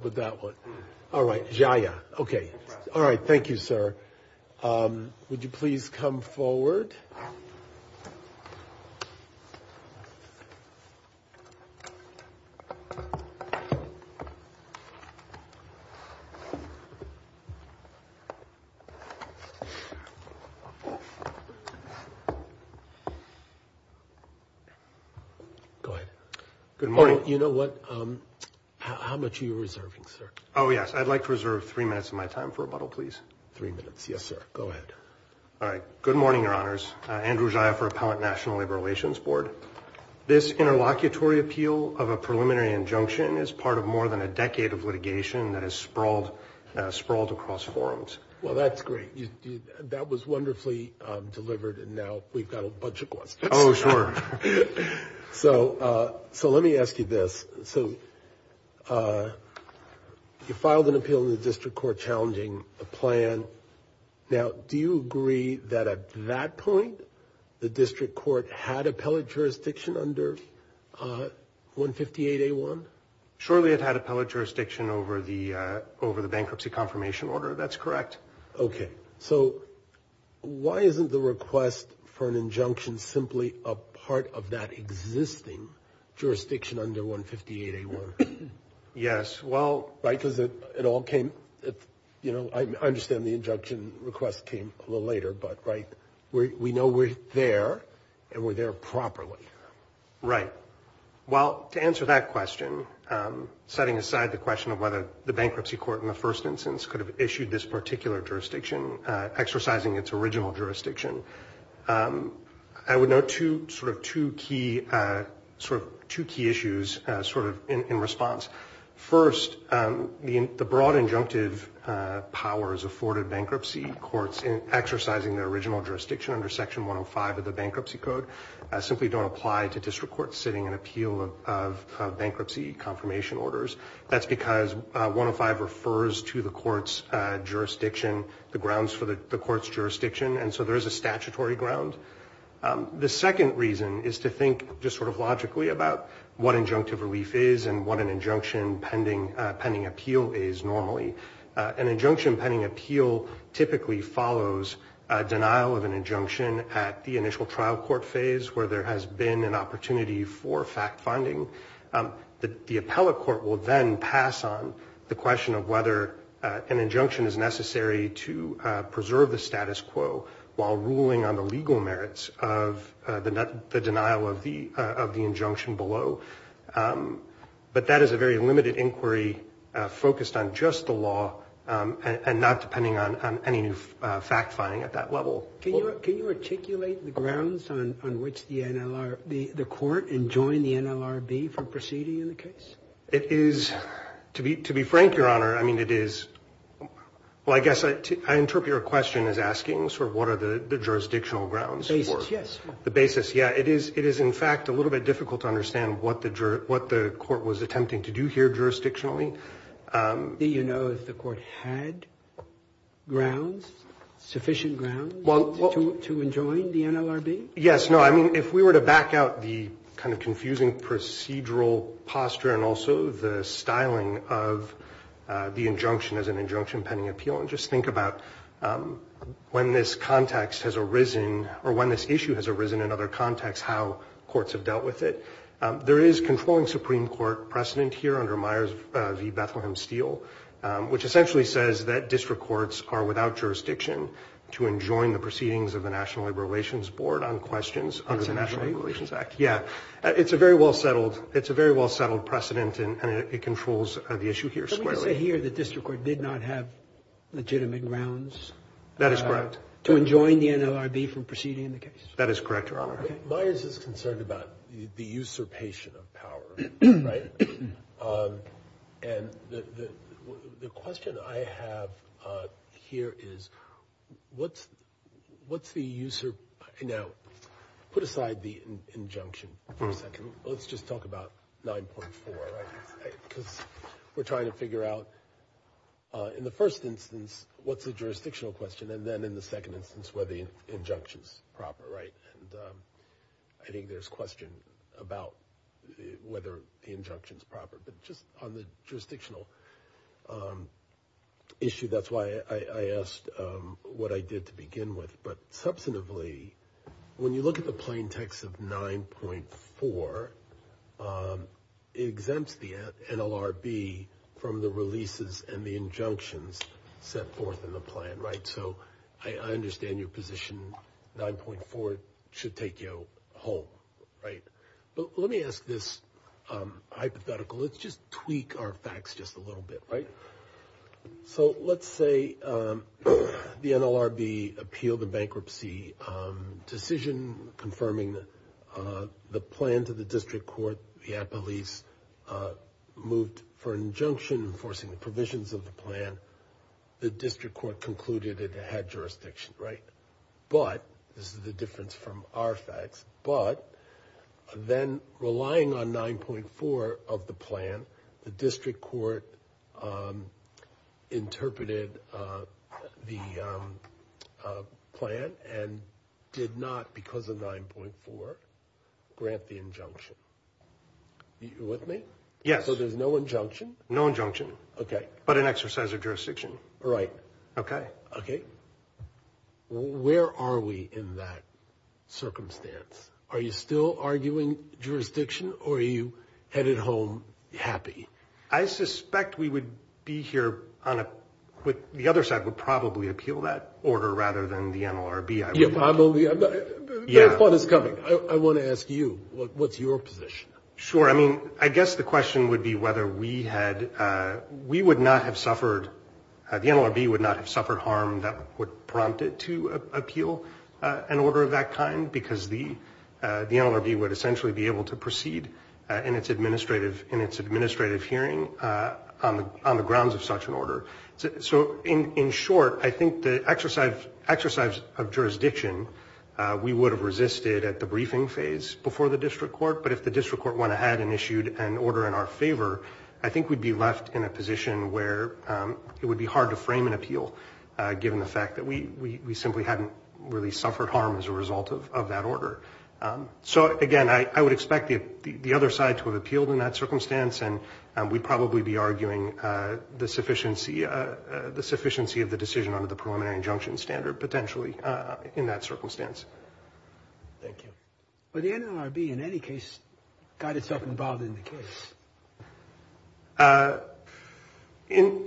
With that one. All right. Yeah. Yeah. Okay. All right. Thank you, sir. Would you please come forward? Go ahead. Good morning. You know what? How much are you reserving, sir? Oh, yes. I'd like to reserve three minutes of my time for a bottle, please. Three minutes. Yes, sir. Go ahead. All right. Good morning, Your Honors. Andrew Jaya for Appellate National Labor Relations Board. This interlocutory appeal of a preliminary injunction is part of more than a decade of litigation that has sprawled across forums. Well, that's great. That was wonderfully delivered, and now we've got a bunch of questions. Oh, sure. So let me ask you this. So you filed an appeal in the district court challenging a plan. Now, do you agree that at that point, the district court had appellate jurisdiction under 158A1? Surely it had appellate jurisdiction over the bankruptcy confirmation order. That's correct. Okay. So why isn't the request for an injunction simply a part of that existing jurisdiction under 158A1? Yes. Well, I understand the injunction request came a little later, but we know we're there, and we're there properly. Right. Well, to answer that question, setting aside the question of whether the bankruptcy court in the first instance could have issued this particular jurisdiction, exercising its original jurisdiction, I would note sort of two key issues sort of in response. First, the broad injunctive powers afforded bankruptcy courts in exercising their original jurisdiction under Section 105 of the Bankruptcy Code simply don't apply to district courts sitting an appeal of bankruptcy confirmation orders. That's because 105 refers to the court's jurisdiction, the grounds for the court's jurisdiction, and so there is a statutory ground. The second reason is to think just sort of logically about what injunctive relief is and what an injunction pending appeal is normally. An injunction pending appeal typically follows denial of an injunction at the initial trial court phase where there has been an opportunity for fact-finding. The appellate court will then pass on the question of whether an injunction is necessary to preserve the status quo while ruling on the legal merits of the denial of the injunction below. But that is a very limited inquiry focused on just the law and not depending on any new fact-finding at that level. Can you articulate the grounds on which the court enjoined the NLRB for proceeding in the case? It is, to be frank, Your Honor, I mean, it is, well, I guess I interpret your question as asking sort of what are the jurisdictional grounds. The basis, yes. The basis, yeah. It is, in fact, a little bit difficult to understand what the court was attempting to do here jurisdictionally. Do you know if the court had grounds, sufficient grounds to enjoin the NLRB? Yes, no, I mean, if we were to back out the kind of confusing procedural posture and also the styling of the injunction as an injunction pending appeal and just think about when this context has arisen or when this issue has arisen in other contexts, how courts have dealt with it. There is controlling Supreme Court precedent here under Myers v. Bethlehem Steel, which essentially says that district courts are without jurisdiction to enjoin the proceedings of the National Labor Relations Board on questions under the National Labor Relations Act. Yeah, it's a very well-settled precedent and it controls the issue here squarely. Let me just say here that district court did not have legitimate grounds. That is correct. To enjoin the NLRB from proceeding in the case. That is correct, Your Honor. Myers is concerned about the usurpation of power, right? And the question I have here is what's the usurpation? Now, put aside the injunction for a second. Let's just talk about 9.4 because we're trying to figure out. In the first instance, what's the jurisdictional question? And then in the second instance, whether the injunction is proper. Right. And I think there's question about whether the injunction is proper, but just on the jurisdictional issue. That's why I asked what I did to begin with. But substantively, when you look at the plain text of 9.4, it exempts the NLRB from the releases and the injunctions set forth in the plan. Right. So I understand your position. 9.4 should take you home. Right. But let me ask this hypothetical. Let's just tweak our facts just a little bit. So let's say the NLRB appealed the bankruptcy decision confirming the plan to the district court. The police moved for injunction enforcing the provisions of the plan. The district court concluded it had jurisdiction. Right. But this is the difference from our facts. But then relying on 9.4 of the plan, the district court interpreted the plan and did not, because of 9.4, grant the injunction. Are you with me? Yes. So there's no injunction? No injunction. OK. But an exercise of jurisdiction. Right. OK. Where are we in that circumstance? Are you still arguing jurisdiction or are you headed home happy? I suspect we would be here on a, the other side would probably appeal that order rather than the NLRB. Yeah, probably. Yeah. The fun is coming. I want to ask you, what's your position? Sure. I mean, I guess the question would be whether we had, we would not have suffered, the NLRB would not have suffered harm that would prompt it to appeal an order of that kind, because the NLRB would essentially be able to proceed in its administrative hearing on the grounds of such an order. So in short, I think the exercise of jurisdiction, we would have resisted at the briefing phase before the district court, but if the district court went ahead and issued an order in our favor, I think we'd be left in a position where it would be hard to frame an appeal, given the fact that we simply hadn't really suffered harm as a result of that order. So again, I would expect the other side to have appealed in that circumstance, and we'd probably be arguing the sufficiency of the decision under the preliminary injunction standard, potentially, in that circumstance. Thank you. But the NLRB, in any case, got itself involved in the case.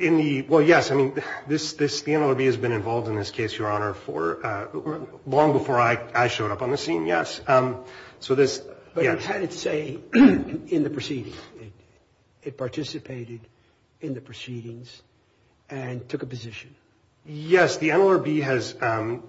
In the, well, yes, I mean, the NLRB has been involved in this case, Your Honor, for, long before I showed up on the scene, yes. So this, yeah. But it had its say in the proceedings. It participated in the proceedings and took a position. Yes, the NLRB has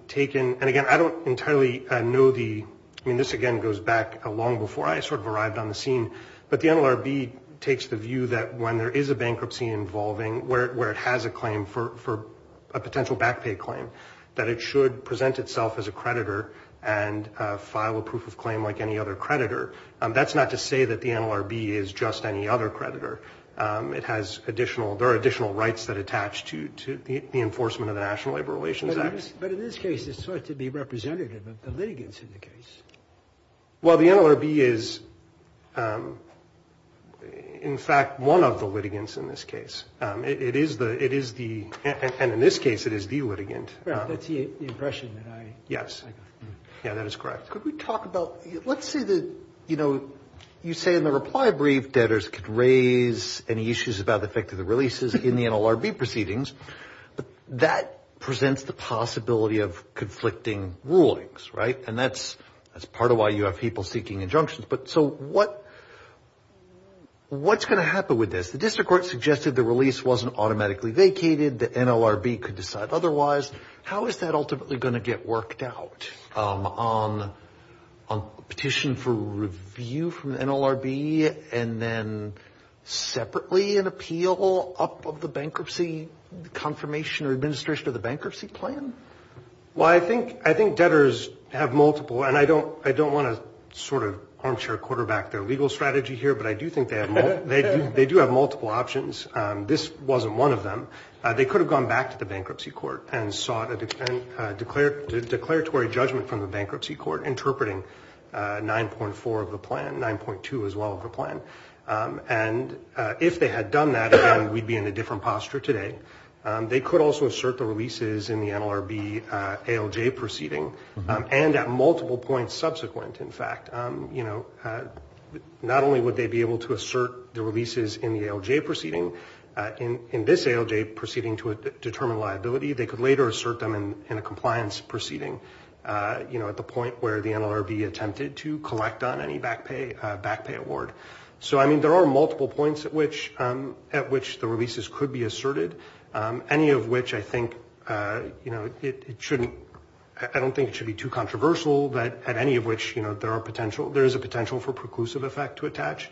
taken, and again, I don't entirely know the, I mean, this again goes back long before I sort of arrived on the scene, but the NLRB takes the view that when there is a bankruptcy involving, where it has a claim for a potential back pay claim, that it should present itself as a creditor and file a proof of claim like any other creditor. That's not to say that the NLRB is just any other creditor. It has additional, there are additional rights that attach to the enforcement of the National Labor Relations Act. But in this case, it's thought to be representative of the litigants in the case. Well, the NLRB is, in fact, one of the litigants in this case. It is the, and in this case, it is the litigant. Right, that's the impression that I got. Yes. Yeah, that is correct. Could we talk about, let's say that, you know, you say in the reply brief, debtors could raise any issues about the effect of the releases in the NLRB proceedings, but that presents the possibility of conflicting rulings, right? And that's part of why you have people seeking injunctions. But so what's going to happen with this? The district court suggested the release wasn't automatically vacated. The NLRB could decide otherwise. How is that ultimately going to get worked out on petition for review from the NLRB and then separately an appeal up of the bankruptcy confirmation or administration of the bankruptcy plan? Well, I think debtors have multiple, and I don't want to sort of armchair quarterback their legal strategy here, but I do think they have multiple options. This wasn't one of them. They could have gone back to the bankruptcy court and sought a declaratory judgment from the bankruptcy court interpreting 9.4 of the plan, 9.2 as well of the plan. And if they had done that, again, we'd be in a different posture today. They could also assert the releases in the NLRB ALJ proceeding and at multiple points subsequent, in fact. Not only would they be able to assert the releases in the ALJ proceeding, in this ALJ proceeding to determine liability, they could later assert them in a compliance proceeding at the point where the NLRB attempted to collect on any back pay award. So, I mean, there are multiple points at which the releases could be asserted, any of which I think, you know, I don't think it should be too controversial, but at any of which, you know, there is a potential for preclusive effect to attach.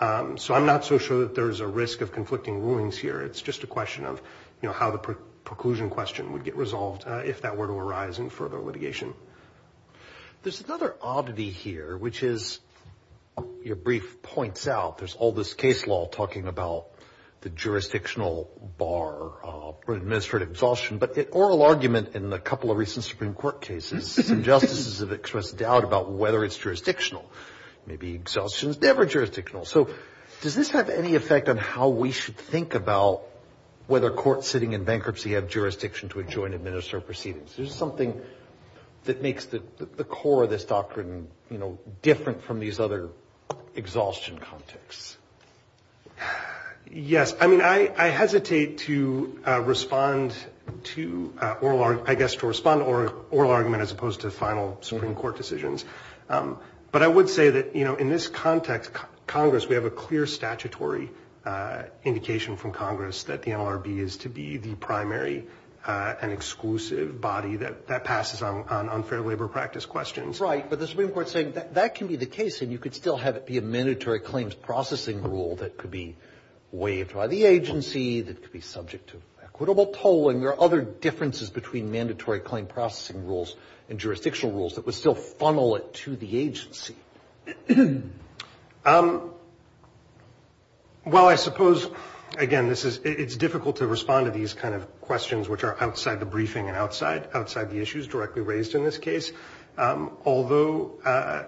So I'm not so sure that there is a risk of conflicting rulings here. It's just a question of, you know, how the preclusion question would get resolved if that were to arise in further litigation. There's another oddity here, which is your brief points out. There's all this case law talking about the jurisdictional bar for administrative exhaustion, but oral argument in a couple of recent Supreme Court cases, some justices have expressed doubt about whether it's jurisdictional. Maybe exhaustion is never jurisdictional. So does this have any effect on how we should think about whether courts sitting in bankruptcy have jurisdiction to adjoin administrative proceedings? Is there something that makes the core of this doctrine, you know, different from these other exhaustion contexts? Yes. I mean, I hesitate to respond to, I guess, to respond to oral argument as opposed to final Supreme Court decisions. But I would say that, you know, in this context, Congress, we have a clear statutory indication from Congress that the NLRB is to be the primary and exclusive body that passes on unfair labor practice questions. Right. But the Supreme Court is saying that that can be the case, and you could still have it be a mandatory claims processing rule that could be waived by the agency, that could be subject to equitable tolling. There are other differences between mandatory claim processing rules and jurisdictional rules that would still funnel it to the agency. Well, I suppose, again, it's difficult to respond to these kind of questions, which are outside the briefing and outside the issues directly raised in this case. Although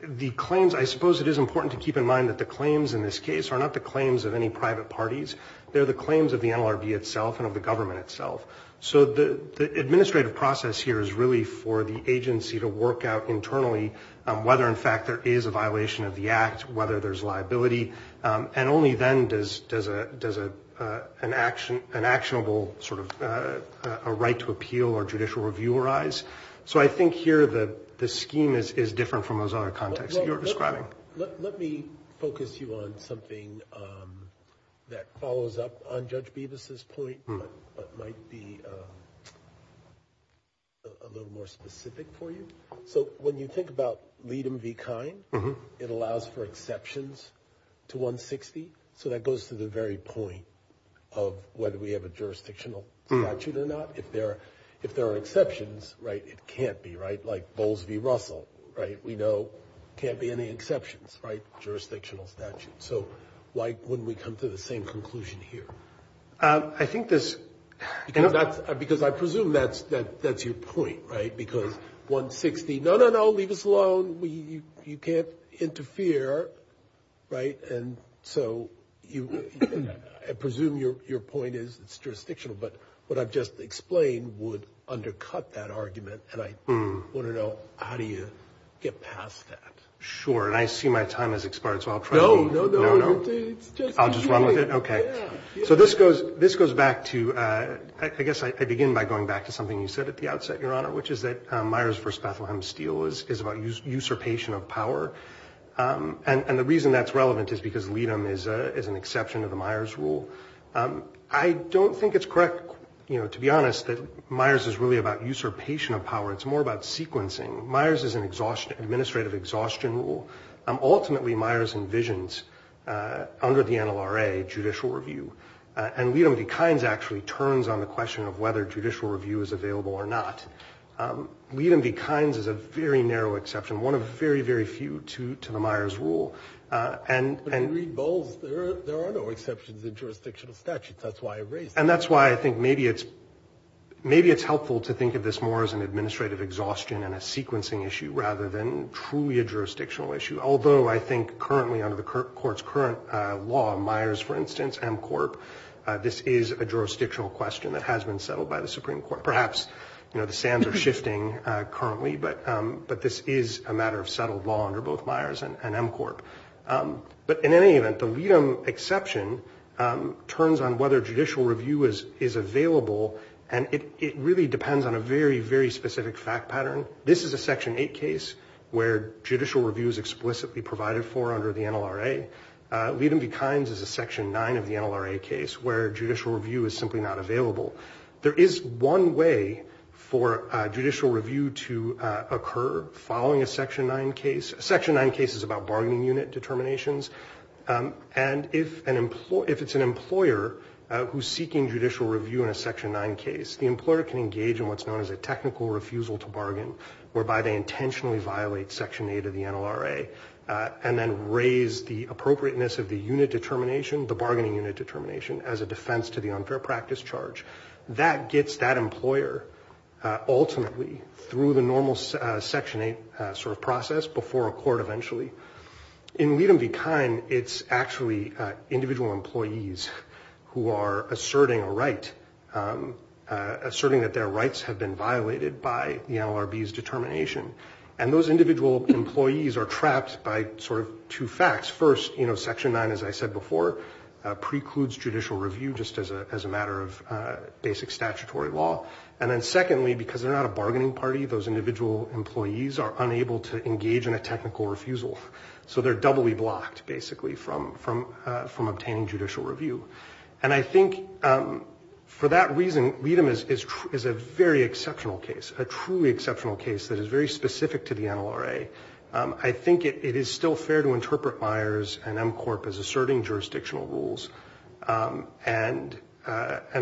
the claims, I suppose it is important to keep in mind that the claims in this case are not the claims of any private parties. They're the claims of the NLRB itself and of the government itself. So the administrative process here is really for the agency to work out internally whether, in fact, there is a violation of the act, whether there's liability, and only then does an actionable sort of right to appeal or judicial review arise. So I think here the scheme is different from those other contexts that you're describing. Let me focus you on something that follows up on Judge Beavis's point, but might be a little more specific for you. So when you think about LEADM v. KINE, it allows for exceptions to 160. So that goes to the very point of whether we have a jurisdictional statute or not. If there are exceptions, right, it can't be, right, like Bowles v. Russell, right? What we know can't be any exceptions, right? Jurisdictional statute. So why wouldn't we come to the same conclusion here? I think this – Because I presume that's your point, right? Because 160, no, no, no, leave us alone. You can't interfere, right? And so I presume your point is it's jurisdictional, but what I've just explained would undercut that argument. And I want to know how do you get past that? Sure, and I see my time has expired, so I'll try to – No, no, no, it's just – I'll just run with it? Okay. Yeah. So this goes back to – I guess I begin by going back to something you said at the outset, Your Honor, which is that Myers v. Bethlehem Steel is about usurpation of power. And the reason that's relevant is because LEADM is an exception to the Myers rule. I don't think it's correct, to be honest, that Myers is really about usurpation of power. It's more about sequencing. Myers is an administrative exhaustion rule. Ultimately, Myers envisions, under the NLRA, judicial review. And LEADM v. Kynes actually turns on the question of whether judicial review is available or not. LEADM v. Kynes is a very narrow exception, one of very, very few to the Myers rule. But in Reed Bowles, there are no exceptions in jurisdictional statutes. That's why I raised it. And that's why I think maybe it's helpful to think of this more as an administrative exhaustion and a sequencing issue rather than truly a jurisdictional issue, although I think currently under the Court's current law, Myers, for instance, MCORP, this is a jurisdictional question that has been settled by the Supreme Court. Perhaps the sands are shifting currently, but this is a matter of settled law under both Myers and MCORP. But in any event, the LEADM exception turns on whether judicial review is available, and it really depends on a very, very specific fact pattern. This is a Section 8 case where judicial review is explicitly provided for under the NLRA. LEADM v. Kynes is a Section 9 of the NLRA case where judicial review is simply not available. There is one way for judicial review to occur following a Section 9 case. A Section 9 case is about bargaining unit determinations. And if it's an employer who's seeking judicial review in a Section 9 case, the employer can engage in what's known as a technical refusal to bargain, whereby they intentionally violate Section 8 of the NLRA and then raise the appropriateness of the unit determination, the bargaining unit determination, as a defense to the unfair practice charge. That gets that employer ultimately through the normal Section 8 sort of process before a court eventually. In LEADM v. Kynes, it's actually individual employees who are asserting a right, asserting that their rights have been violated by the NLRB's determination. And those individual employees are trapped by sort of two facts. First, Section 9, as I said before, precludes judicial review just as a matter of basic statutory law. And then secondly, because they're not a bargaining party, those individual employees are unable to engage in a technical refusal. So they're doubly blocked, basically, from obtaining judicial review. And I think for that reason, LEADM is a very exceptional case, a truly exceptional case that is very specific to the NLRA. I think it is still fair to interpret Myers and MCORP as asserting jurisdictional rules. And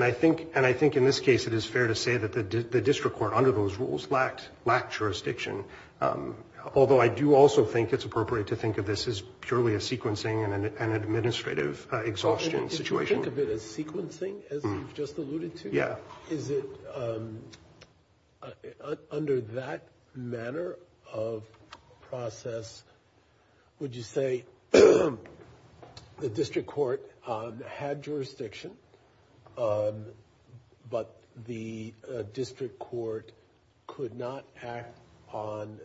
I think in this case it is fair to say that the district court under those rules lacked jurisdiction, although I do also think it's appropriate to think of this as purely a sequencing and an administrative exhaustion situation. You think of it as sequencing, as you've just alluded to? Yeah. Is it under that manner of process, would you say the district court had jurisdiction, but the district court could not act on,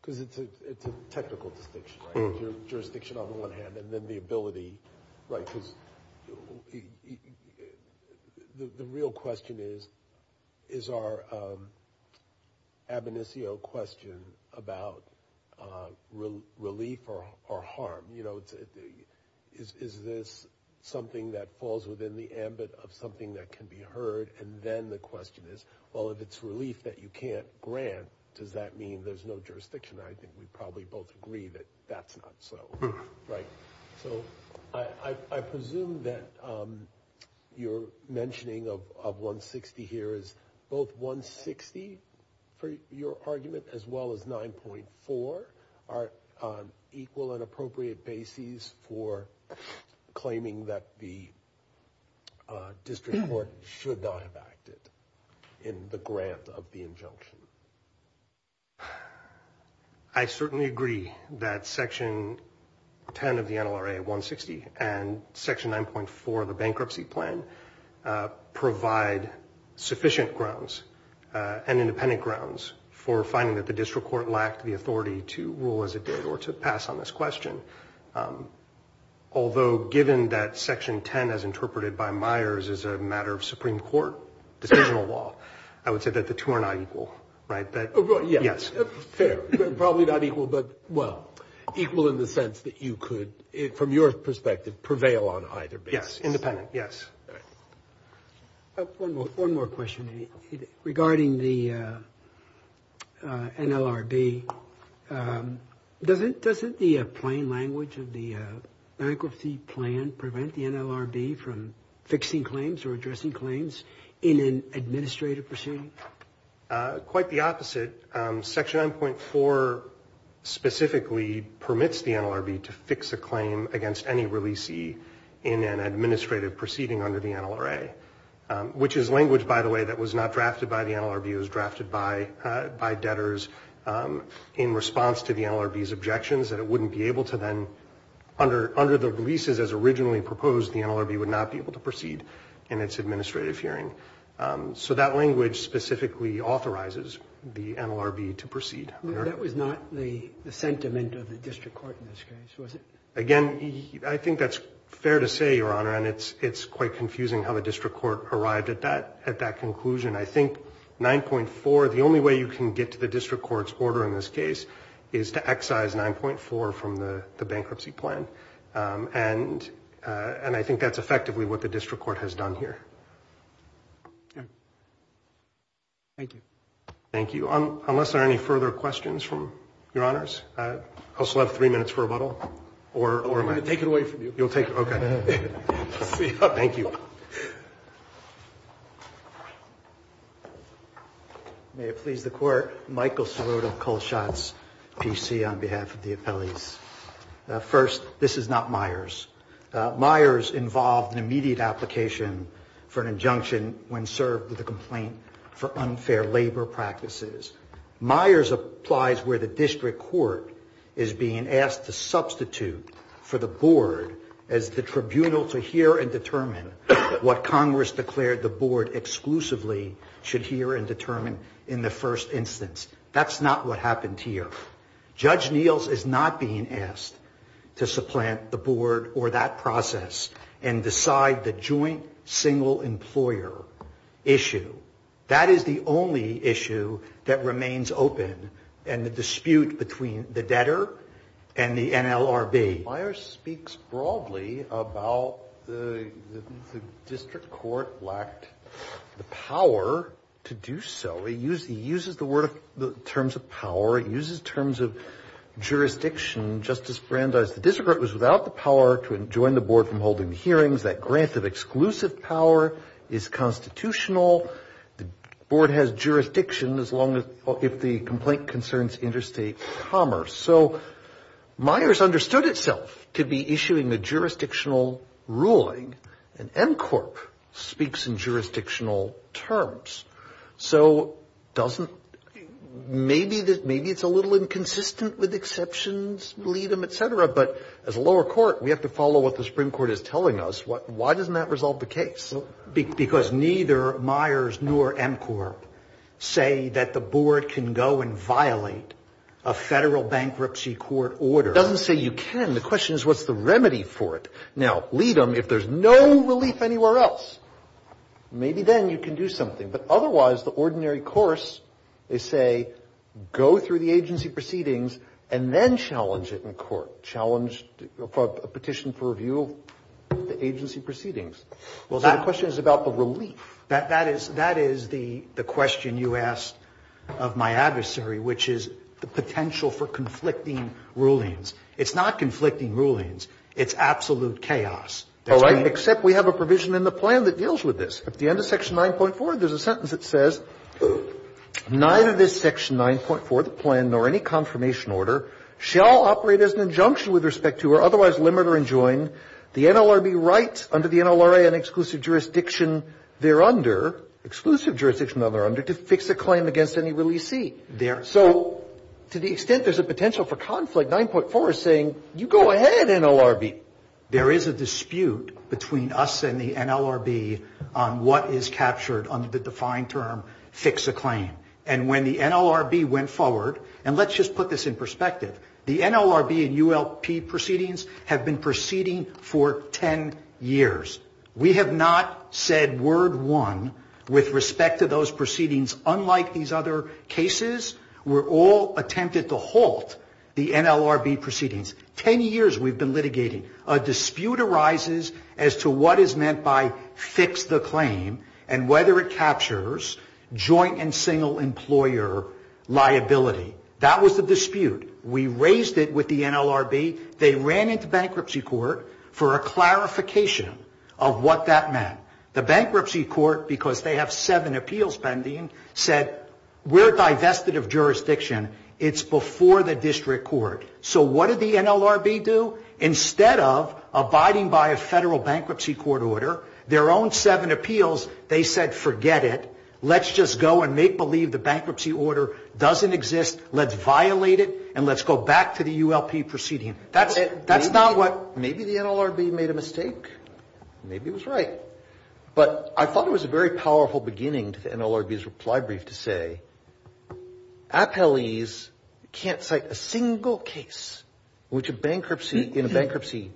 because it's a technical distinction, right, because the real question is our ab initio question about relief or harm. Is this something that falls within the ambit of something that can be heard? And then the question is, well, if it's relief that you can't grant, does that mean there's no jurisdiction? I think we probably both agree that that's not so. Right. So I presume that your mentioning of 160 here is both 160 for your argument, as well as 9.4 are equal and appropriate bases for claiming that the district court should not have acted in the grant of the injunction. I certainly agree that section 10 of the NLRA 160 and section 9.4 of the bankruptcy plan provide sufficient grounds and independent grounds for finding that the district court lacked the authority to rule as it did or to pass on this question. Although given that section 10, as interpreted by Myers, is a matter of Supreme Court decisional law, I would say that the two are not equal. Right. Yes. Fair. Probably not equal, but, well, equal in the sense that you could, from your perspective, prevail on either base. Yes. Independent. Yes. One more question regarding the NLRB. Doesn't the plain language of the bankruptcy plan prevent the NLRB from fixing claims or addressing claims in an administrative proceeding? Quite the opposite. Section 9.4 specifically permits the NLRB to fix a claim against any releasee in an administrative proceeding under the NLRA, which is language, by the way, that was not drafted by the NLRB. It was drafted by debtors in response to the NLRB's objections that it wouldn't be able to then, under the releases as originally proposed, the NLRB would not be able to proceed in its administrative hearing. So that language specifically authorizes the NLRB to proceed. That was not the sentiment of the district court in this case, was it? Again, I think that's fair to say, Your Honor, and it's quite confusing how the district court arrived at that conclusion. I think 9.4, the only way you can get to the district court's order in this case is to excise 9.4 from the bankruptcy plan, and I think that's effectively what the district court has done here. Thank you. Thank you. So unless there are any further questions from Your Honors, I also have 3 minutes for rebuttal. Or am I? I'm going to take it away from you. You'll take it? Okay. Thank you. May it please the Court. Michael Sirota, Colshott's PC, on behalf of the appellees. First, this is not Myers. Myers involved an immediate application for an injunction when served with a complaint for unfair labor practices. Myers applies where the district court is being asked to substitute for the board as the tribunal to hear and determine what Congress declared the board exclusively should hear and determine in the first instance. That's not what happened here. Judge Niels is not being asked to supplant the board or that process and decide the joint single employer issue. That is the only issue that remains open in the dispute between the debtor and the NLRB. Myers speaks broadly about the district court lacked the power to do so. He uses the word terms of power. He uses terms of jurisdiction. Justice Brandeis, the district court was without the power to join the board from holding hearings. That grant of exclusive power is constitutional. The board has jurisdiction as long as the complaint concerns interstate commerce. So Myers understood itself to be issuing a jurisdictional ruling. And NCORP speaks in jurisdictional terms. So maybe it's a little inconsistent with exceptions, lead them, et cetera. But as a lower court, we have to follow what the Supreme Court is telling us. Why doesn't that resolve the case? Because neither Myers nor NCORP say that the board can go and violate a federal bankruptcy court order. It doesn't say you can. The question is what's the remedy for it. Now, lead them. If there's no relief anywhere else, maybe then you can do something. But otherwise, the ordinary course is, say, go through the agency proceedings and then challenge it in court, challenge a petition for review of the agency proceedings. So the question is about the relief. That is the question you asked of my adversary, which is the potential for conflicting rulings. It's not conflicting rulings. It's absolute chaos. All right. Except we have a provision in the plan that deals with this. At the end of Section 9.4, there's a sentence that says, neither this Section 9.4, the plan, nor any confirmation order, shall operate as an injunction with respect to or otherwise limit or enjoin the NLRB rights under the NLRA and exclusive jurisdiction thereunder, exclusive jurisdiction thereunder, to fix a claim against any releasee. So to the extent there's a potential for conflict, 9.4 is saying you go ahead, NLRB. There is a dispute between us and the NLRB on what is captured under the defined term fix a claim. And when the NLRB went forward, and let's just put this in perspective, the NLRB and ULP proceedings have been proceeding for 10 years. We have not said word one with respect to those proceedings, unlike these other cases. We're all attempted to halt the NLRB proceedings. Ten years we've been litigating. A dispute arises as to what is meant by fix the claim and whether it captures joint and single employer liability. That was the dispute. We raised it with the NLRB. They ran into bankruptcy court for a clarification of what that meant. The bankruptcy court, because they have seven appeals pending, said we're divested of jurisdiction. It's before the district court. So what did the NLRB do? Instead of abiding by a federal bankruptcy court order, their own seven appeals, they said forget it. Let's just go and make believe the bankruptcy order doesn't exist. Let's violate it, and let's go back to the ULP proceeding. That's not what ‑‑ Maybe the NLRB made a mistake. Maybe it was right. But I thought it was a very powerful beginning to the NLRB's reply brief to say appellees can't cite a single case in a bankruptcy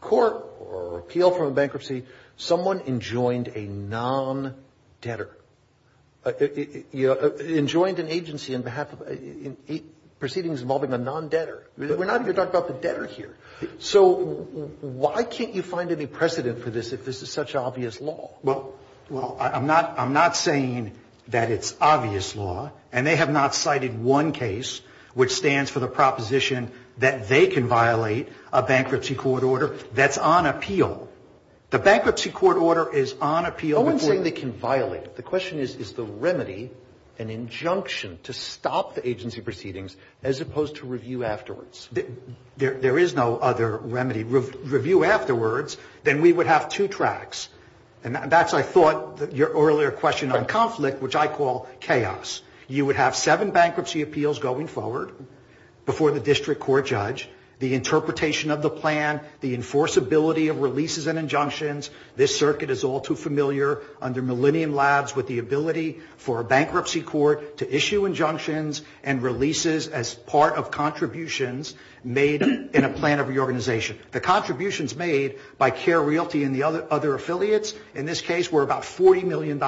court or appeal from a bankruptcy someone enjoined a non‑debtor. Enjoined an agency in proceedings involving a non‑debtor. We're not even talking about the debtor here. So why can't you find any precedent for this if this is such obvious law? Well, I'm not saying that it's obvious law, and they have not cited one case, which stands for the proposition that they can violate a bankruptcy court order that's on appeal. The bankruptcy court order is on appeal. I'm not saying they can violate it. The question is, is the remedy an injunction to stop the agency proceedings as opposed to review afterwards? There is no other remedy. Review afterwards, then we would have two tracks. And that's, I thought, your earlier question on conflict, which I call chaos. You would have seven bankruptcy appeals going forward before the district court judge. The interpretation of the plan, the enforceability of releases and injunctions, this circuit is all too familiar under millennium labs with the ability for a bankruptcy court to issue injunctions and releases as part of contributions made in a plan of the organization. The contributions made by Care Realty and the other affiliates in this case were about $40 million.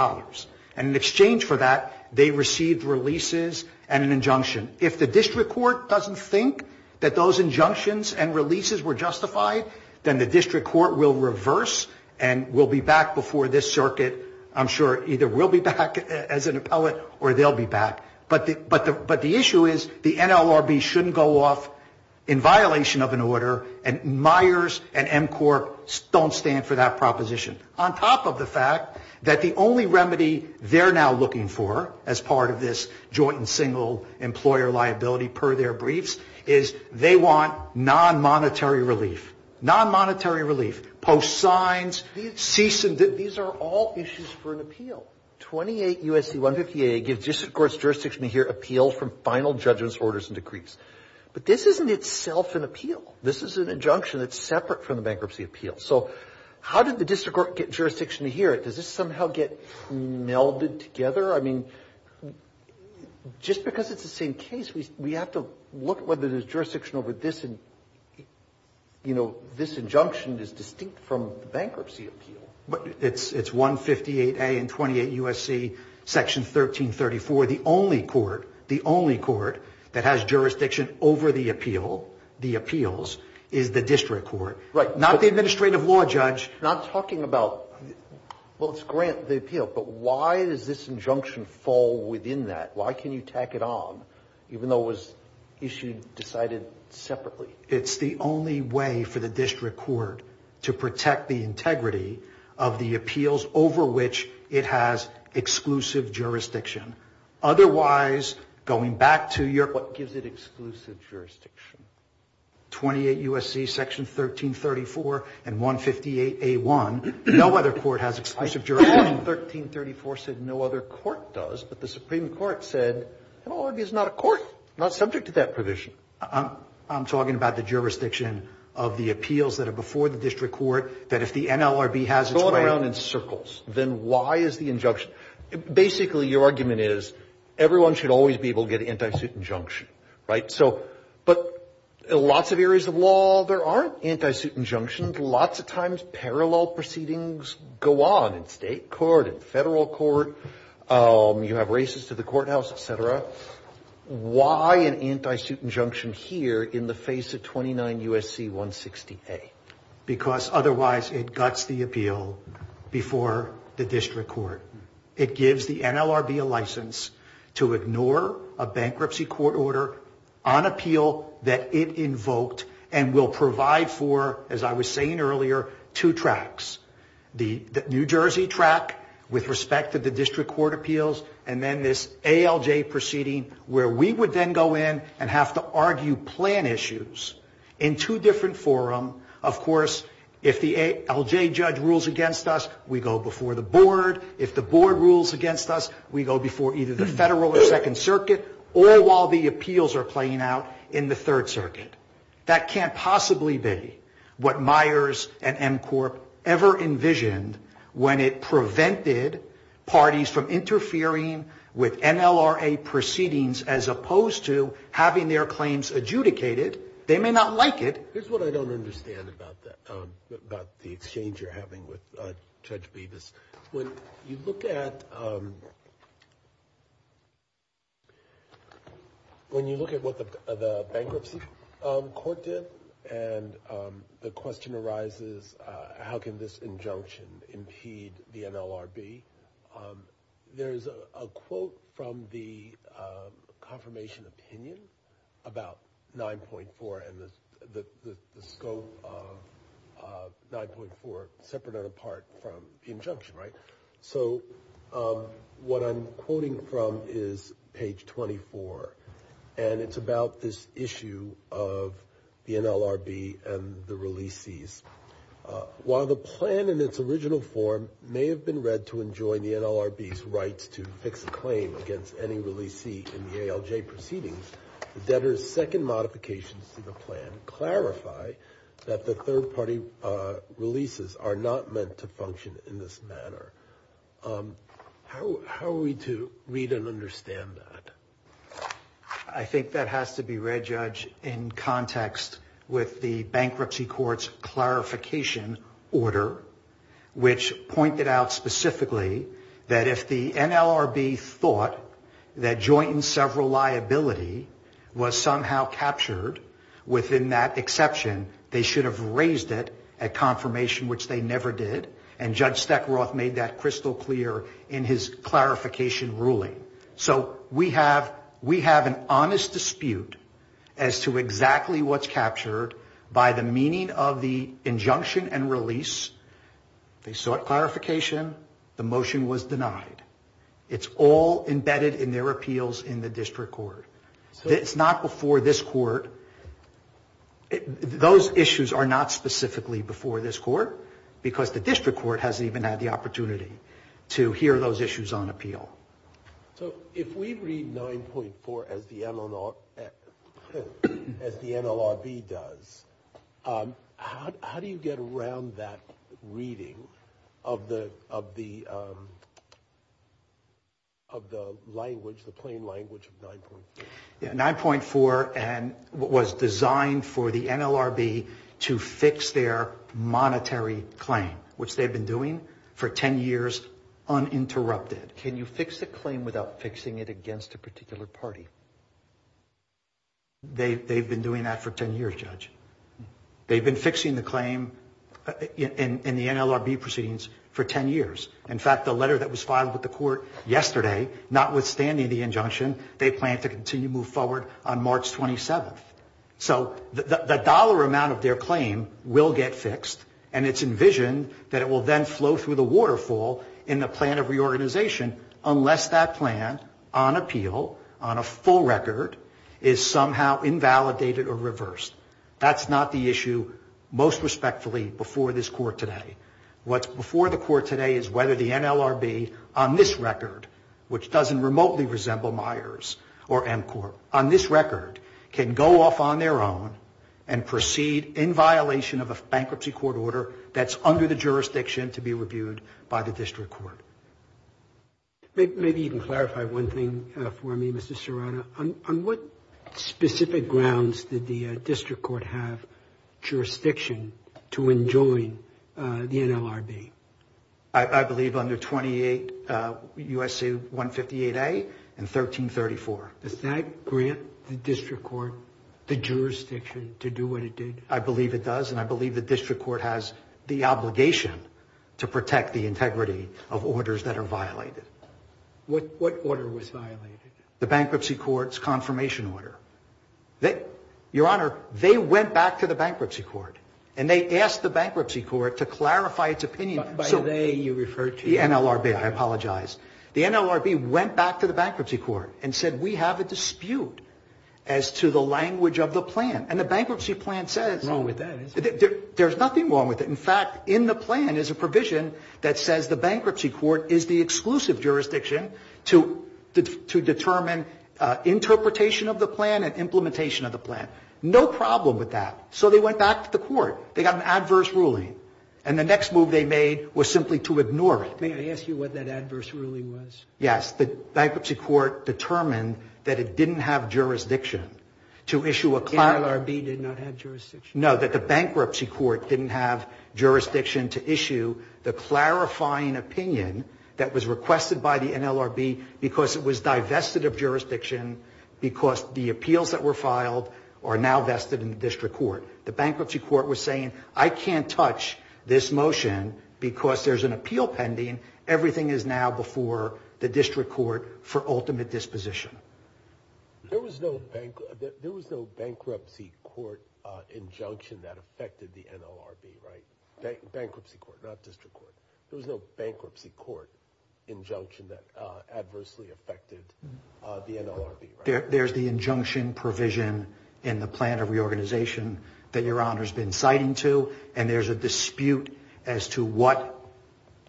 And in exchange for that, they received releases and an injunction. If the district court doesn't think that those injunctions and releases were justified, then the district court will reverse and will be back before this circuit. I'm sure either we'll be back as an appellate or they'll be back. But the issue is the NLRB shouldn't go off in violation of an order, and Myers and MCORP don't stand for that proposition. On top of the fact that the only remedy they're now looking for as part of this joint and single employer liability per their briefs is they want non-monetary relief. Non-monetary relief, post signs, cease and desist, these are all issues for an appeal. Now, 28 U.S.C. 158A gives district court's jurisdiction to hear appeals from final judgments, orders, and decrees. But this isn't itself an appeal. This is an injunction that's separate from the bankruptcy appeal. So how did the district court get jurisdiction to hear it? Does this somehow get melded together? I mean, just because it's the same case, we have to look whether there's jurisdiction over this and, you know, this injunction is distinct from the bankruptcy appeal. It's 158A and 28 U.S.C., Section 1334. The only court, the only court that has jurisdiction over the appeal, the appeals, is the district court. Right. Not the administrative law judge. Not talking about, well, it's grant the appeal, but why does this injunction fall within that? Why can you tack it on, even though it was issued, decided separately? It's the only way for the district court to protect the integrity of the appeals over which it has exclusive jurisdiction. Otherwise, going back to your question. What gives it exclusive jurisdiction? 28 U.S.C., Section 1334 and 158A1. No other court has exclusive jurisdiction. Section 1334 said no other court does, but the Supreme Court said, it already is not a court, not subject to that provision. I'm talking about the jurisdiction of the appeals that are before the district court, that if the NLRB has its way. Throw it around in circles. Then why is the injunction? Basically, your argument is, everyone should always be able to get an anti-suit injunction, right? So, but lots of areas of law, there aren't anti-suit injunctions. Lots of times, parallel proceedings go on in state court, in federal court. You have races to the courthouse, et cetera. Why an anti-suit injunction here in the face of 29 U.S.C. 160A? Because otherwise, it guts the appeal before the district court. It gives the NLRB a license to ignore a bankruptcy court order on appeal that it invoked and will provide for, as I was saying earlier, two tracks. The New Jersey track, with respect to the district court appeals, and then this ALJ proceeding, where we would then go in and have to argue plan issues in two different forum. Of course, if the ALJ judge rules against us, we go before the board. If the board rules against us, we go before either the federal or second circuit, all while the appeals are playing out in the third circuit. That can't possibly be what Myers and MCORP ever envisioned when it came to the NLRB. They may not like it. Here's what I don't understand about that, about the exchange you're having with Judge Bevis. When you look at what the bankruptcy court did, and the question arises, how can this injunction impede the NLRB? There's a quote from the confirmation opinion about 9.4 and the scope of 9.4, separate and apart from the injunction. What I'm quoting from is page 24. It's about this issue of the NLRB and the releasees. While the plan in its original form may have been read to enjoin the NLRB's rights to fix a claim against any releasee in the ALJ proceedings, the debtor's second modifications to the plan clarify that the third-party releases are not meant to function in this manner. How are we to read and understand that? I think that has to be read, Judge, in context with the bankruptcy court's clarification order, which pointed out specifically that if the NLRB thought that joint and several liability was somehow captured within that exception, they should have raised it at confirmation, which they never did. And Judge Steckroth made that crystal clear in his clarification ruling. So we have an honest dispute as to exactly what's captured by the meaning of the injunction and release. They sought clarification. The motion was denied. It's all embedded in their appeals in the district court. It's not before this court. Those issues are not specifically before this court because the district court hasn't even had the opportunity to hear those issues on appeal. So if we read 9.4 as the NLRB does, how do you get around that reading of the language, the plain language of 9.4? 9.4 was designed for the NLRB to fix their monetary claim, which they've been doing for 10 years uninterrupted. Can you fix a claim without fixing it against a particular party? They've been doing that for 10 years, Judge. They've been fixing the claim in the NLRB proceedings for 10 years. In fact, the letter that was filed with the court yesterday, notwithstanding the injunction, they plan to continue to move forward on March 27th. So the dollar amount of their claim will get fixed, and it's envisioned that it will then flow through the waterfall in the plan of reorganization unless that plan on appeal, on a full record, is somehow invalidated or reversed. That's not the issue most respectfully before this court today. What's before the court today is whether the NLRB on this record, which doesn't remotely resemble Myers or Emcorp, on this record can go off on their own and proceed in violation of a bankruptcy court order that's under the jurisdiction to be reviewed by the district court. Maybe you can clarify one thing for me, Mr. Serrano. On what specific grounds did the district court have jurisdiction to enjoin the NLRB? I believe under 28 U.S.C. 158A and 1334. Does that grant the district court the jurisdiction to do what it did? I believe it does, and I believe the district court has the obligation to protect the integrity of orders that are violated. What order was violated? The bankruptcy court's confirmation order. Your Honor, they went back to the bankruptcy court, and they asked the bankruptcy court to clarify its opinion. By they, you referred to the NLRB. The NLRB, I apologize. The NLRB went back to the bankruptcy court and said we have a dispute as to the language of the plan. And the bankruptcy plan says. There's nothing wrong with that. In fact, in the plan is a provision that says the bankruptcy court is the exclusive jurisdiction to determine interpretation of the plan and implementation of the plan. No problem with that. So they went back to the court. They got an adverse ruling. And the next move they made was simply to ignore it. May I ask you what that adverse ruling was? Yes. The bankruptcy court determined that it didn't have jurisdiction to issue a clarifying. The NLRB did not have jurisdiction? No, that the bankruptcy court didn't have jurisdiction to issue the clarifying opinion that was requested by the NLRB because it was divested of jurisdiction because the appeals that were filed are now vested in the district court. The bankruptcy court was saying I can't touch this motion because there's an appeal pending. Everything is now before the district court for ultimate disposition. There was no bankruptcy court injunction that affected the NLRB, right? Bankruptcy court, not district court. There was no bankruptcy court injunction that adversely affected the NLRB, right? There's the injunction provision in the plan of reorganization that Your Honor has been citing to, and there's a dispute as to what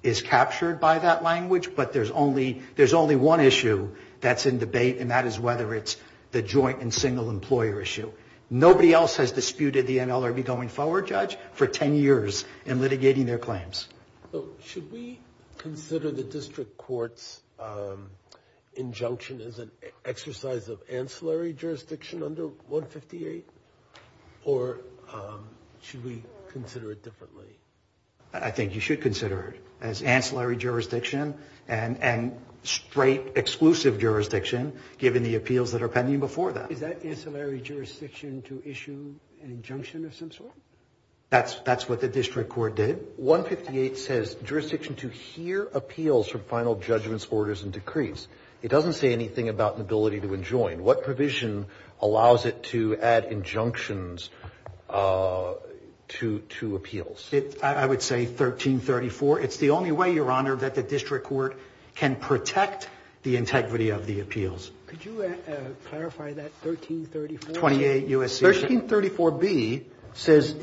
is captured by that language, but there's only one issue that's in debate, and that is whether it's the joint and single employer issue. Nobody else has disputed the NLRB going forward, Judge, for 10 years in litigating their claims. Should we consider the district court's injunction as an exercise of ancillary jurisdiction under 158, or should we consider it differently? I think you should consider it as ancillary jurisdiction and straight exclusive jurisdiction given the appeals that are pending before that. Is that ancillary jurisdiction to issue an injunction of some sort? That's what the district court did. 158 says jurisdiction to hear appeals from final judgments, orders, and decrees. It doesn't say anything about the ability to enjoin. What provision allows it to add injunctions to appeals? I would say 1334. It's the only way, Your Honor, that the district court can protect the integrity of the appeals. Could you clarify that 1334? 28 U.S.C. 1334B says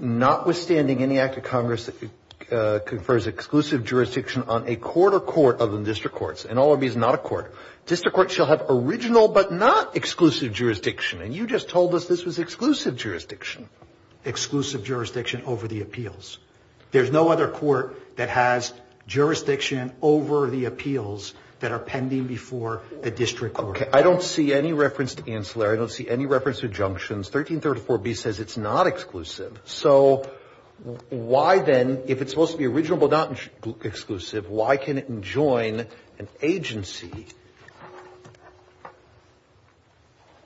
notwithstanding any act of Congress that confers exclusive jurisdiction on a court or court other than district courts, and NLRB is not a court, district courts shall have original but not exclusive jurisdiction. And you just told us this was exclusive jurisdiction. Exclusive jurisdiction over the appeals. There's no other court that has jurisdiction over the appeals that are pending before the district court. Okay. I don't see any reference to ancillary. I don't see any reference to injunctions. 1334B says it's not exclusive. So why then, if it's supposed to be original but not exclusive, why can it enjoin an agency?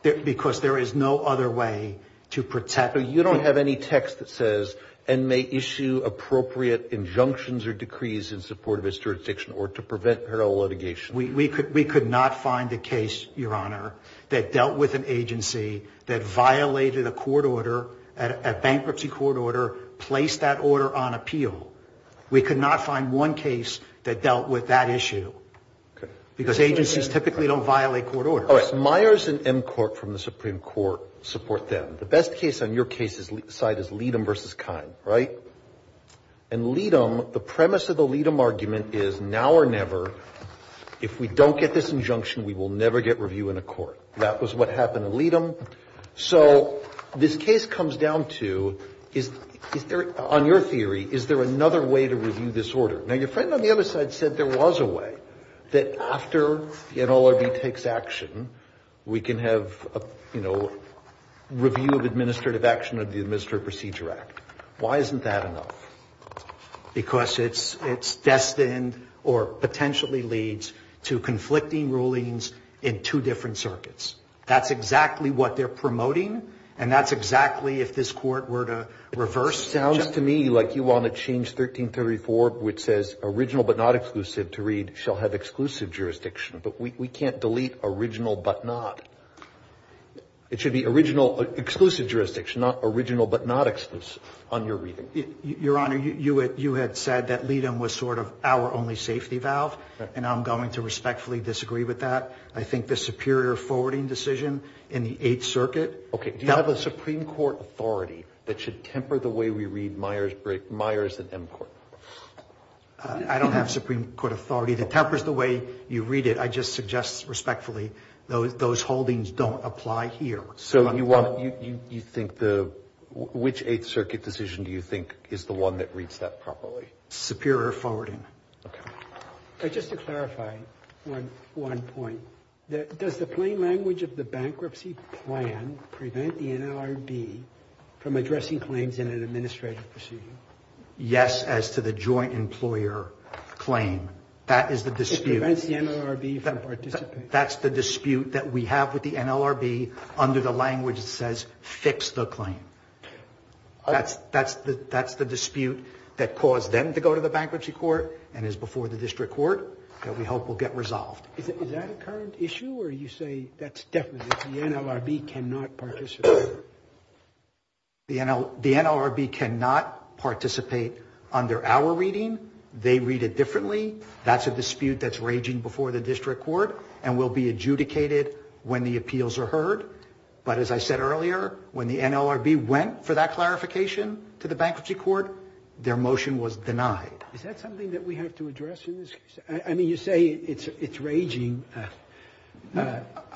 Because there is no other way to protect the ---- So you don't have any text that says, and may issue appropriate injunctions or decrees in support of its jurisdiction or to prevent parallel litigation. We could not find a case, Your Honor, that dealt with an agency that violated a court order, a bankruptcy court order, placed that order on appeal. We could not find one case that dealt with that issue. Okay. Because agencies typically don't violate court orders. All right. Myers and Emcourt from the Supreme Court support them. The best case on your side is Leadham v. Kine, right? And Leadham, the premise of the Leadham argument is, now or never, if we don't get this injunction, we will never get review in a court. That was what happened in Leadham. So this case comes down to, is there, on your theory, is there another way to review this order? Now, your friend on the other side said there was a way, that after the NLRB takes action, we can have, you know, review of administrative action under the Administrative Procedure Act. Why isn't that enough? Because it's destined or potentially leads to conflicting rulings in two different circuits. That's exactly what they're promoting, and that's exactly if this Court were to reverse the judgment. It sounds to me like you want to change 1334, which says, original but not exclusive to read, shall have exclusive jurisdiction. But we can't delete original but not. It should be original, exclusive jurisdiction, not original but not exclusive on your reading. Your Honor, you had said that Leadham was sort of our only safety valve, and I'm going to respectfully disagree with that. I think the superior forwarding decision in the Eighth Circuit. Okay. Do you have a Supreme Court authority that should temper the way we read Myers and Emcourt? I don't have Supreme Court authority that tempers the way you read it. I just suggest, respectfully, those holdings don't apply here. Which Eighth Circuit decision do you think is the one that reads that properly? Superior forwarding. Okay. Just to clarify one point. Does the plain language of the bankruptcy plan prevent the NLRB from addressing claims in an administrative procedure? Yes, as to the joint employer claim. That is the dispute. It prevents the NLRB from participating. That's the dispute that we have with the NLRB under the language that says, fix the claim. That's the dispute that caused them to go to the bankruptcy court and is before the district court that we hope will get resolved. Is that a current issue, or you say that's definitely the NLRB cannot participate? The NLRB cannot participate under our reading. They read it differently. That's a dispute that's raging before the district court. And will be adjudicated when the appeals are heard. But as I said earlier, when the NLRB went for that clarification to the bankruptcy court, their motion was denied. Is that something that we have to address in this case? I mean, you say it's raging.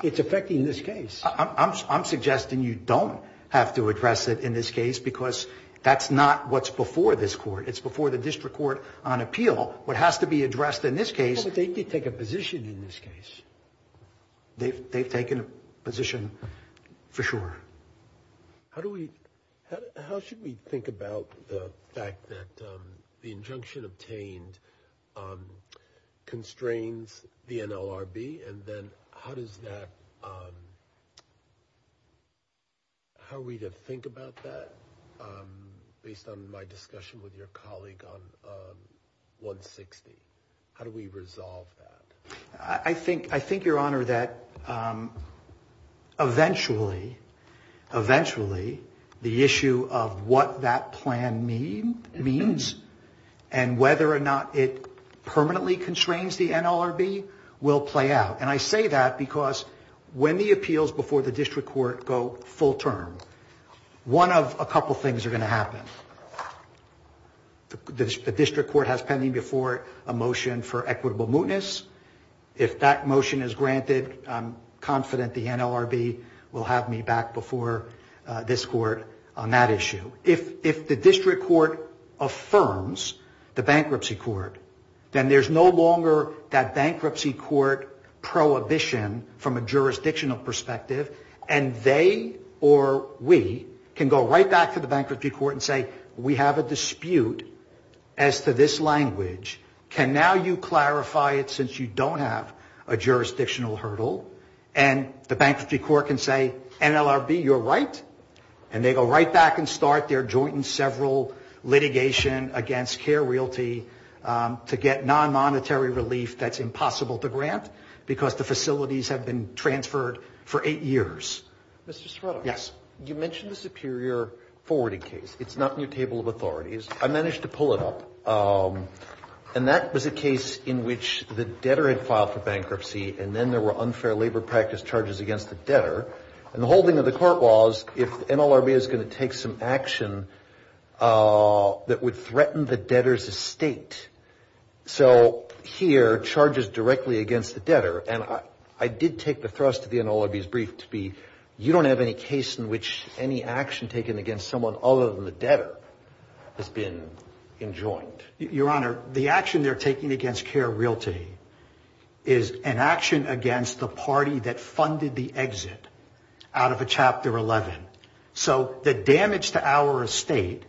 It's affecting this case. I'm suggesting you don't have to address it in this case because that's not what's before this court. It's before the district court on appeal. What has to be addressed in this case. Well, but they did take a position in this case. They've taken a position for sure. How do we, how should we think about the fact that the injunction obtained constrains the NLRB, and then how does that, how are we to think about that based on my discussion with your colleague on 160? How do we resolve that? I think, I think your honor that eventually, eventually the issue of what that plan means and whether or not it permanently constrains the NLRB will play out. And I say that because when the appeals before the district court go full The district court has pending before a motion for equitable mootness. If that motion is granted, I'm confident the NLRB will have me back before this court on that issue. If the district court affirms the bankruptcy court, then there's no longer that bankruptcy court prohibition from a jurisdictional perspective, and they or we can go right back to the bankruptcy court and say, we have a dispute as to this language. Can now you clarify it since you don't have a jurisdictional hurdle? And the bankruptcy court can say, NLRB, you're right. And they go right back and start their joint and several litigation against care realty to get non-monetary relief that's impossible to grant because the facilities have been transferred for eight years. You mentioned the superior forwarding case. It's not in your table of authorities. I managed to pull it up. And that was a case in which the debtor had filed for bankruptcy, and then there were unfair labor practice charges against the debtor. And the whole thing of the court was if the NLRB is going to take some action that would threaten the debtor's estate. So here, charges directly against the debtor. And I did take the thrust of the NLRB's brief to be you don't have any case in which any action taken against someone other than the debtor has been enjoined. Your Honor, the action they're taking against care realty is an action against the party that funded the exit out of a Chapter 11. So the damage to our estate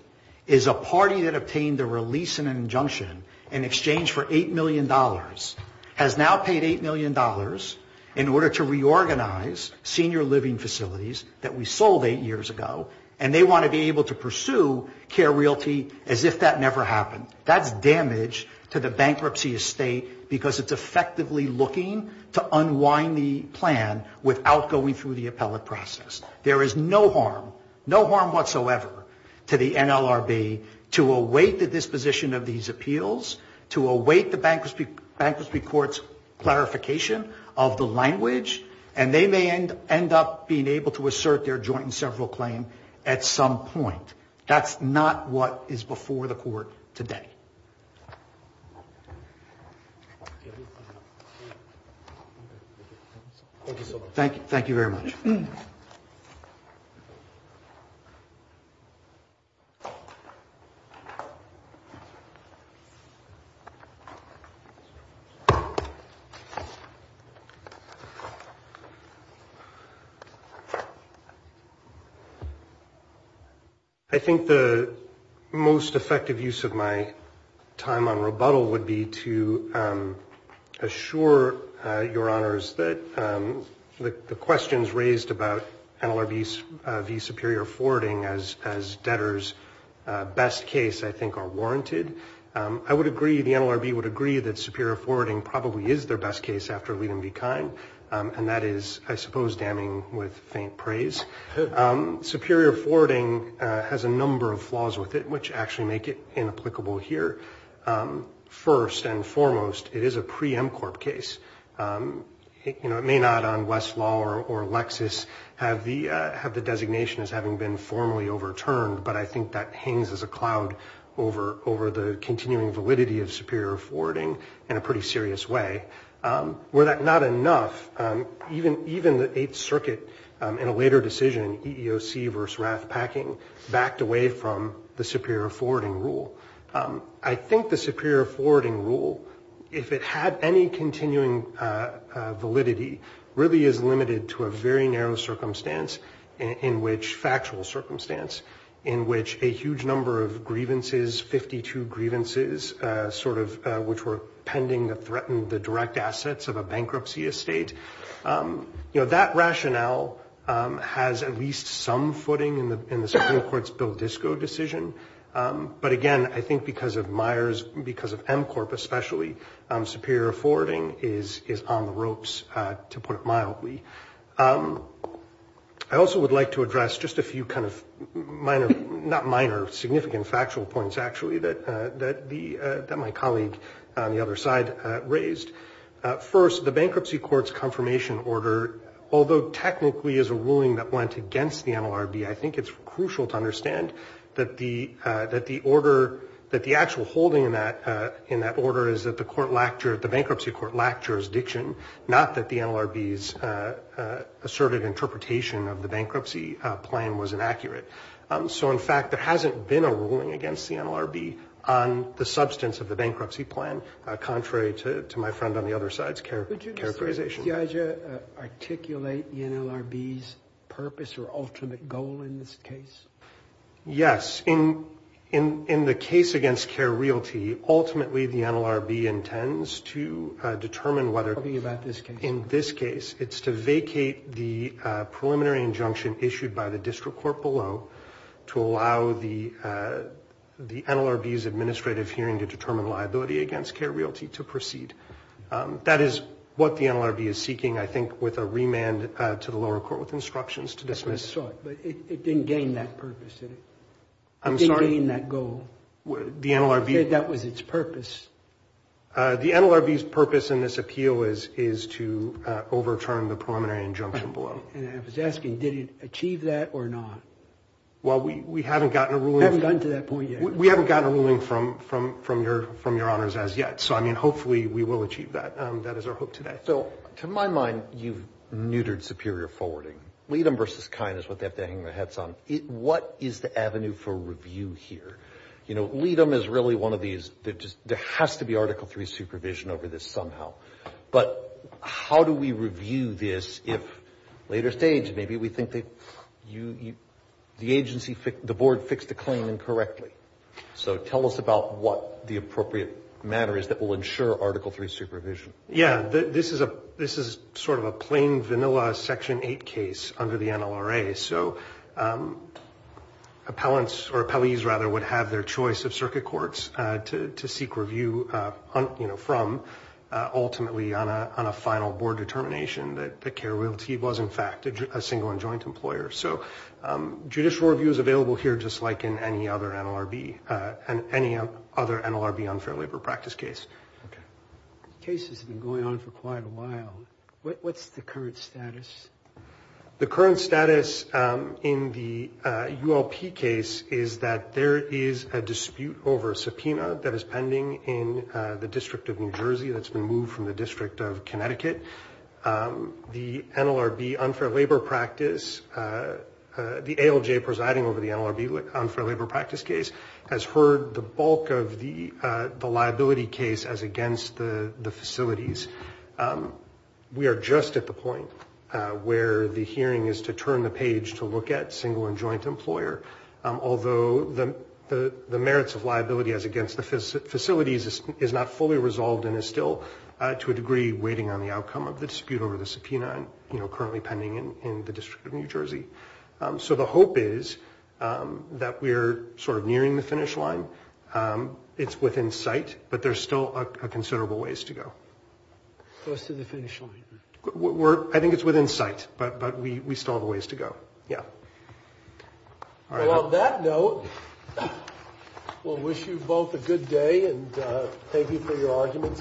is a party that obtained a release and an injunction in exchange for $8 million, has now paid $8 million in order to reorganize senior living facilities that we sold eight years ago, and they want to be able to pursue care realty as if that never happened. That's damage to the bankruptcy estate because it's effectively looking to unwind the plan without going through the appellate process. There is no harm, no harm whatsoever to the NLRB to await the disposition of these appeals, to await the bankruptcy court's clarification of the language, and they may end up being able to assert their joint and several claim at some point. That's not what is before the court today. Thank you very much. I think the most effective use of my time on rebuttal would be to assure your Honors that the questions raised about NLRB's v. Superior forwarding as debtor's best case, I think, are warranted. I would agree, the NLRB would agree that Superior forwarding probably is their best case after Liedem v. Kine, and that is, I suppose, damning with faint praise. Superior forwarding has a number of flaws with it, which actually make it inapplicable here. First and foremost, it is a pre-MCORP case. It may not on Westlaw or Lexis have the designation as having been formally overturned, but I think that hangs as a cloud over the continuing validity of Superior forwarding in a pretty serious way. Were that not enough, even the Eighth Circuit in a later decision, EEOC v. Rathpacking, backed away from the Superior forwarding rule. I think the Superior forwarding rule, if it had any continuing validity, really is limited to a very narrow circumstance in which, factual circumstance, in which a huge number of grievances, 52 grievances, sort of, which were pending that threatened the direct assets of a bankruptcy estate. You know, that rationale has at least some footing in the Supreme Court's Bill Disko decision, but again, I think because of Myers, because of MCORP especially, Superior forwarding is on the ropes, to put it mildly. I also would like to address just a few kind of minor, not minor, significant factual points, actually, that my colleague on the other side raised. First, the bankruptcy court's confirmation order, although technically is a ruling that went against the MLRB, I think it's crucial to note that the actual holding in that order is that the bankruptcy court lacked jurisdiction, not that the NLRB's asserted interpretation of the bankruptcy plan was inaccurate. So in fact, there hasn't been a ruling against the NLRB on the substance of the bankruptcy plan, contrary to my friend on the other side's characterization. Would you articulate the NLRB's purpose or ultimate goal in this case? Yes. In the case against Care Realty, ultimately the NLRB intends to determine whether, in this case, it's to vacate the preliminary injunction issued by the district court below to allow the NLRB's administrative hearing to determine liability against Care Realty to proceed. That is what the NLRB is seeking, I think, with a remand to the lower court with instructions to dismiss. But it didn't gain that purpose, did it? It didn't gain that goal? The NLRB's purpose in this appeal is to overturn the preliminary injunction below. And I was asking, did it achieve that or not? Well, we haven't gotten a ruling. We haven't gotten a ruling from your honors as yet. So, I mean, hopefully we will achieve that. That is our hope today. So, to my mind, you've neutered superior forwarding. What is the avenue for review here? You know, LEADM is really one of these, there has to be Article III supervision over this somehow. But how do we review this if, later stage, maybe we think the agency, the board, fixed a claim incorrectly? So, tell us about what the appropriate manner is that will ensure Article III supervision. Yeah, this is sort of a plain vanilla Section 8 case under the NLRA. So, appellants, or appellees, rather, would have their choice of circuit courts to seek review from, ultimately, on a final board determination that Care Realty was, in fact, a single and joint employer. So, judicial review is available here just like in any other NLRB unfair labor practice case. The case has been going on for quite a while. What's the current status? The current status in the ULP case is that there is a dispute over superior forwarding. That is pending in the District of New Jersey, that's been moved from the District of Connecticut. The NLRB unfair labor practice, the ALJ presiding over the NLRB unfair labor practice case has heard the bulk of the liability case as against the facilities. We are just at the point where the hearing is to turn the page to look at single and joint employer, although the merits of liability as against the facilities is not fully resolved and is still, to a degree, waiting on the outcome of the dispute over the subpoena, currently pending in the District of New Jersey. So, the hope is that we are sort of nearing the finish line. It's within sight, but there's still considerable ways to go. Close to the finish line. I think it's within sight, but we still have a ways to go. Well, on that note, we'll wish you both a good day and thank you for your arguments.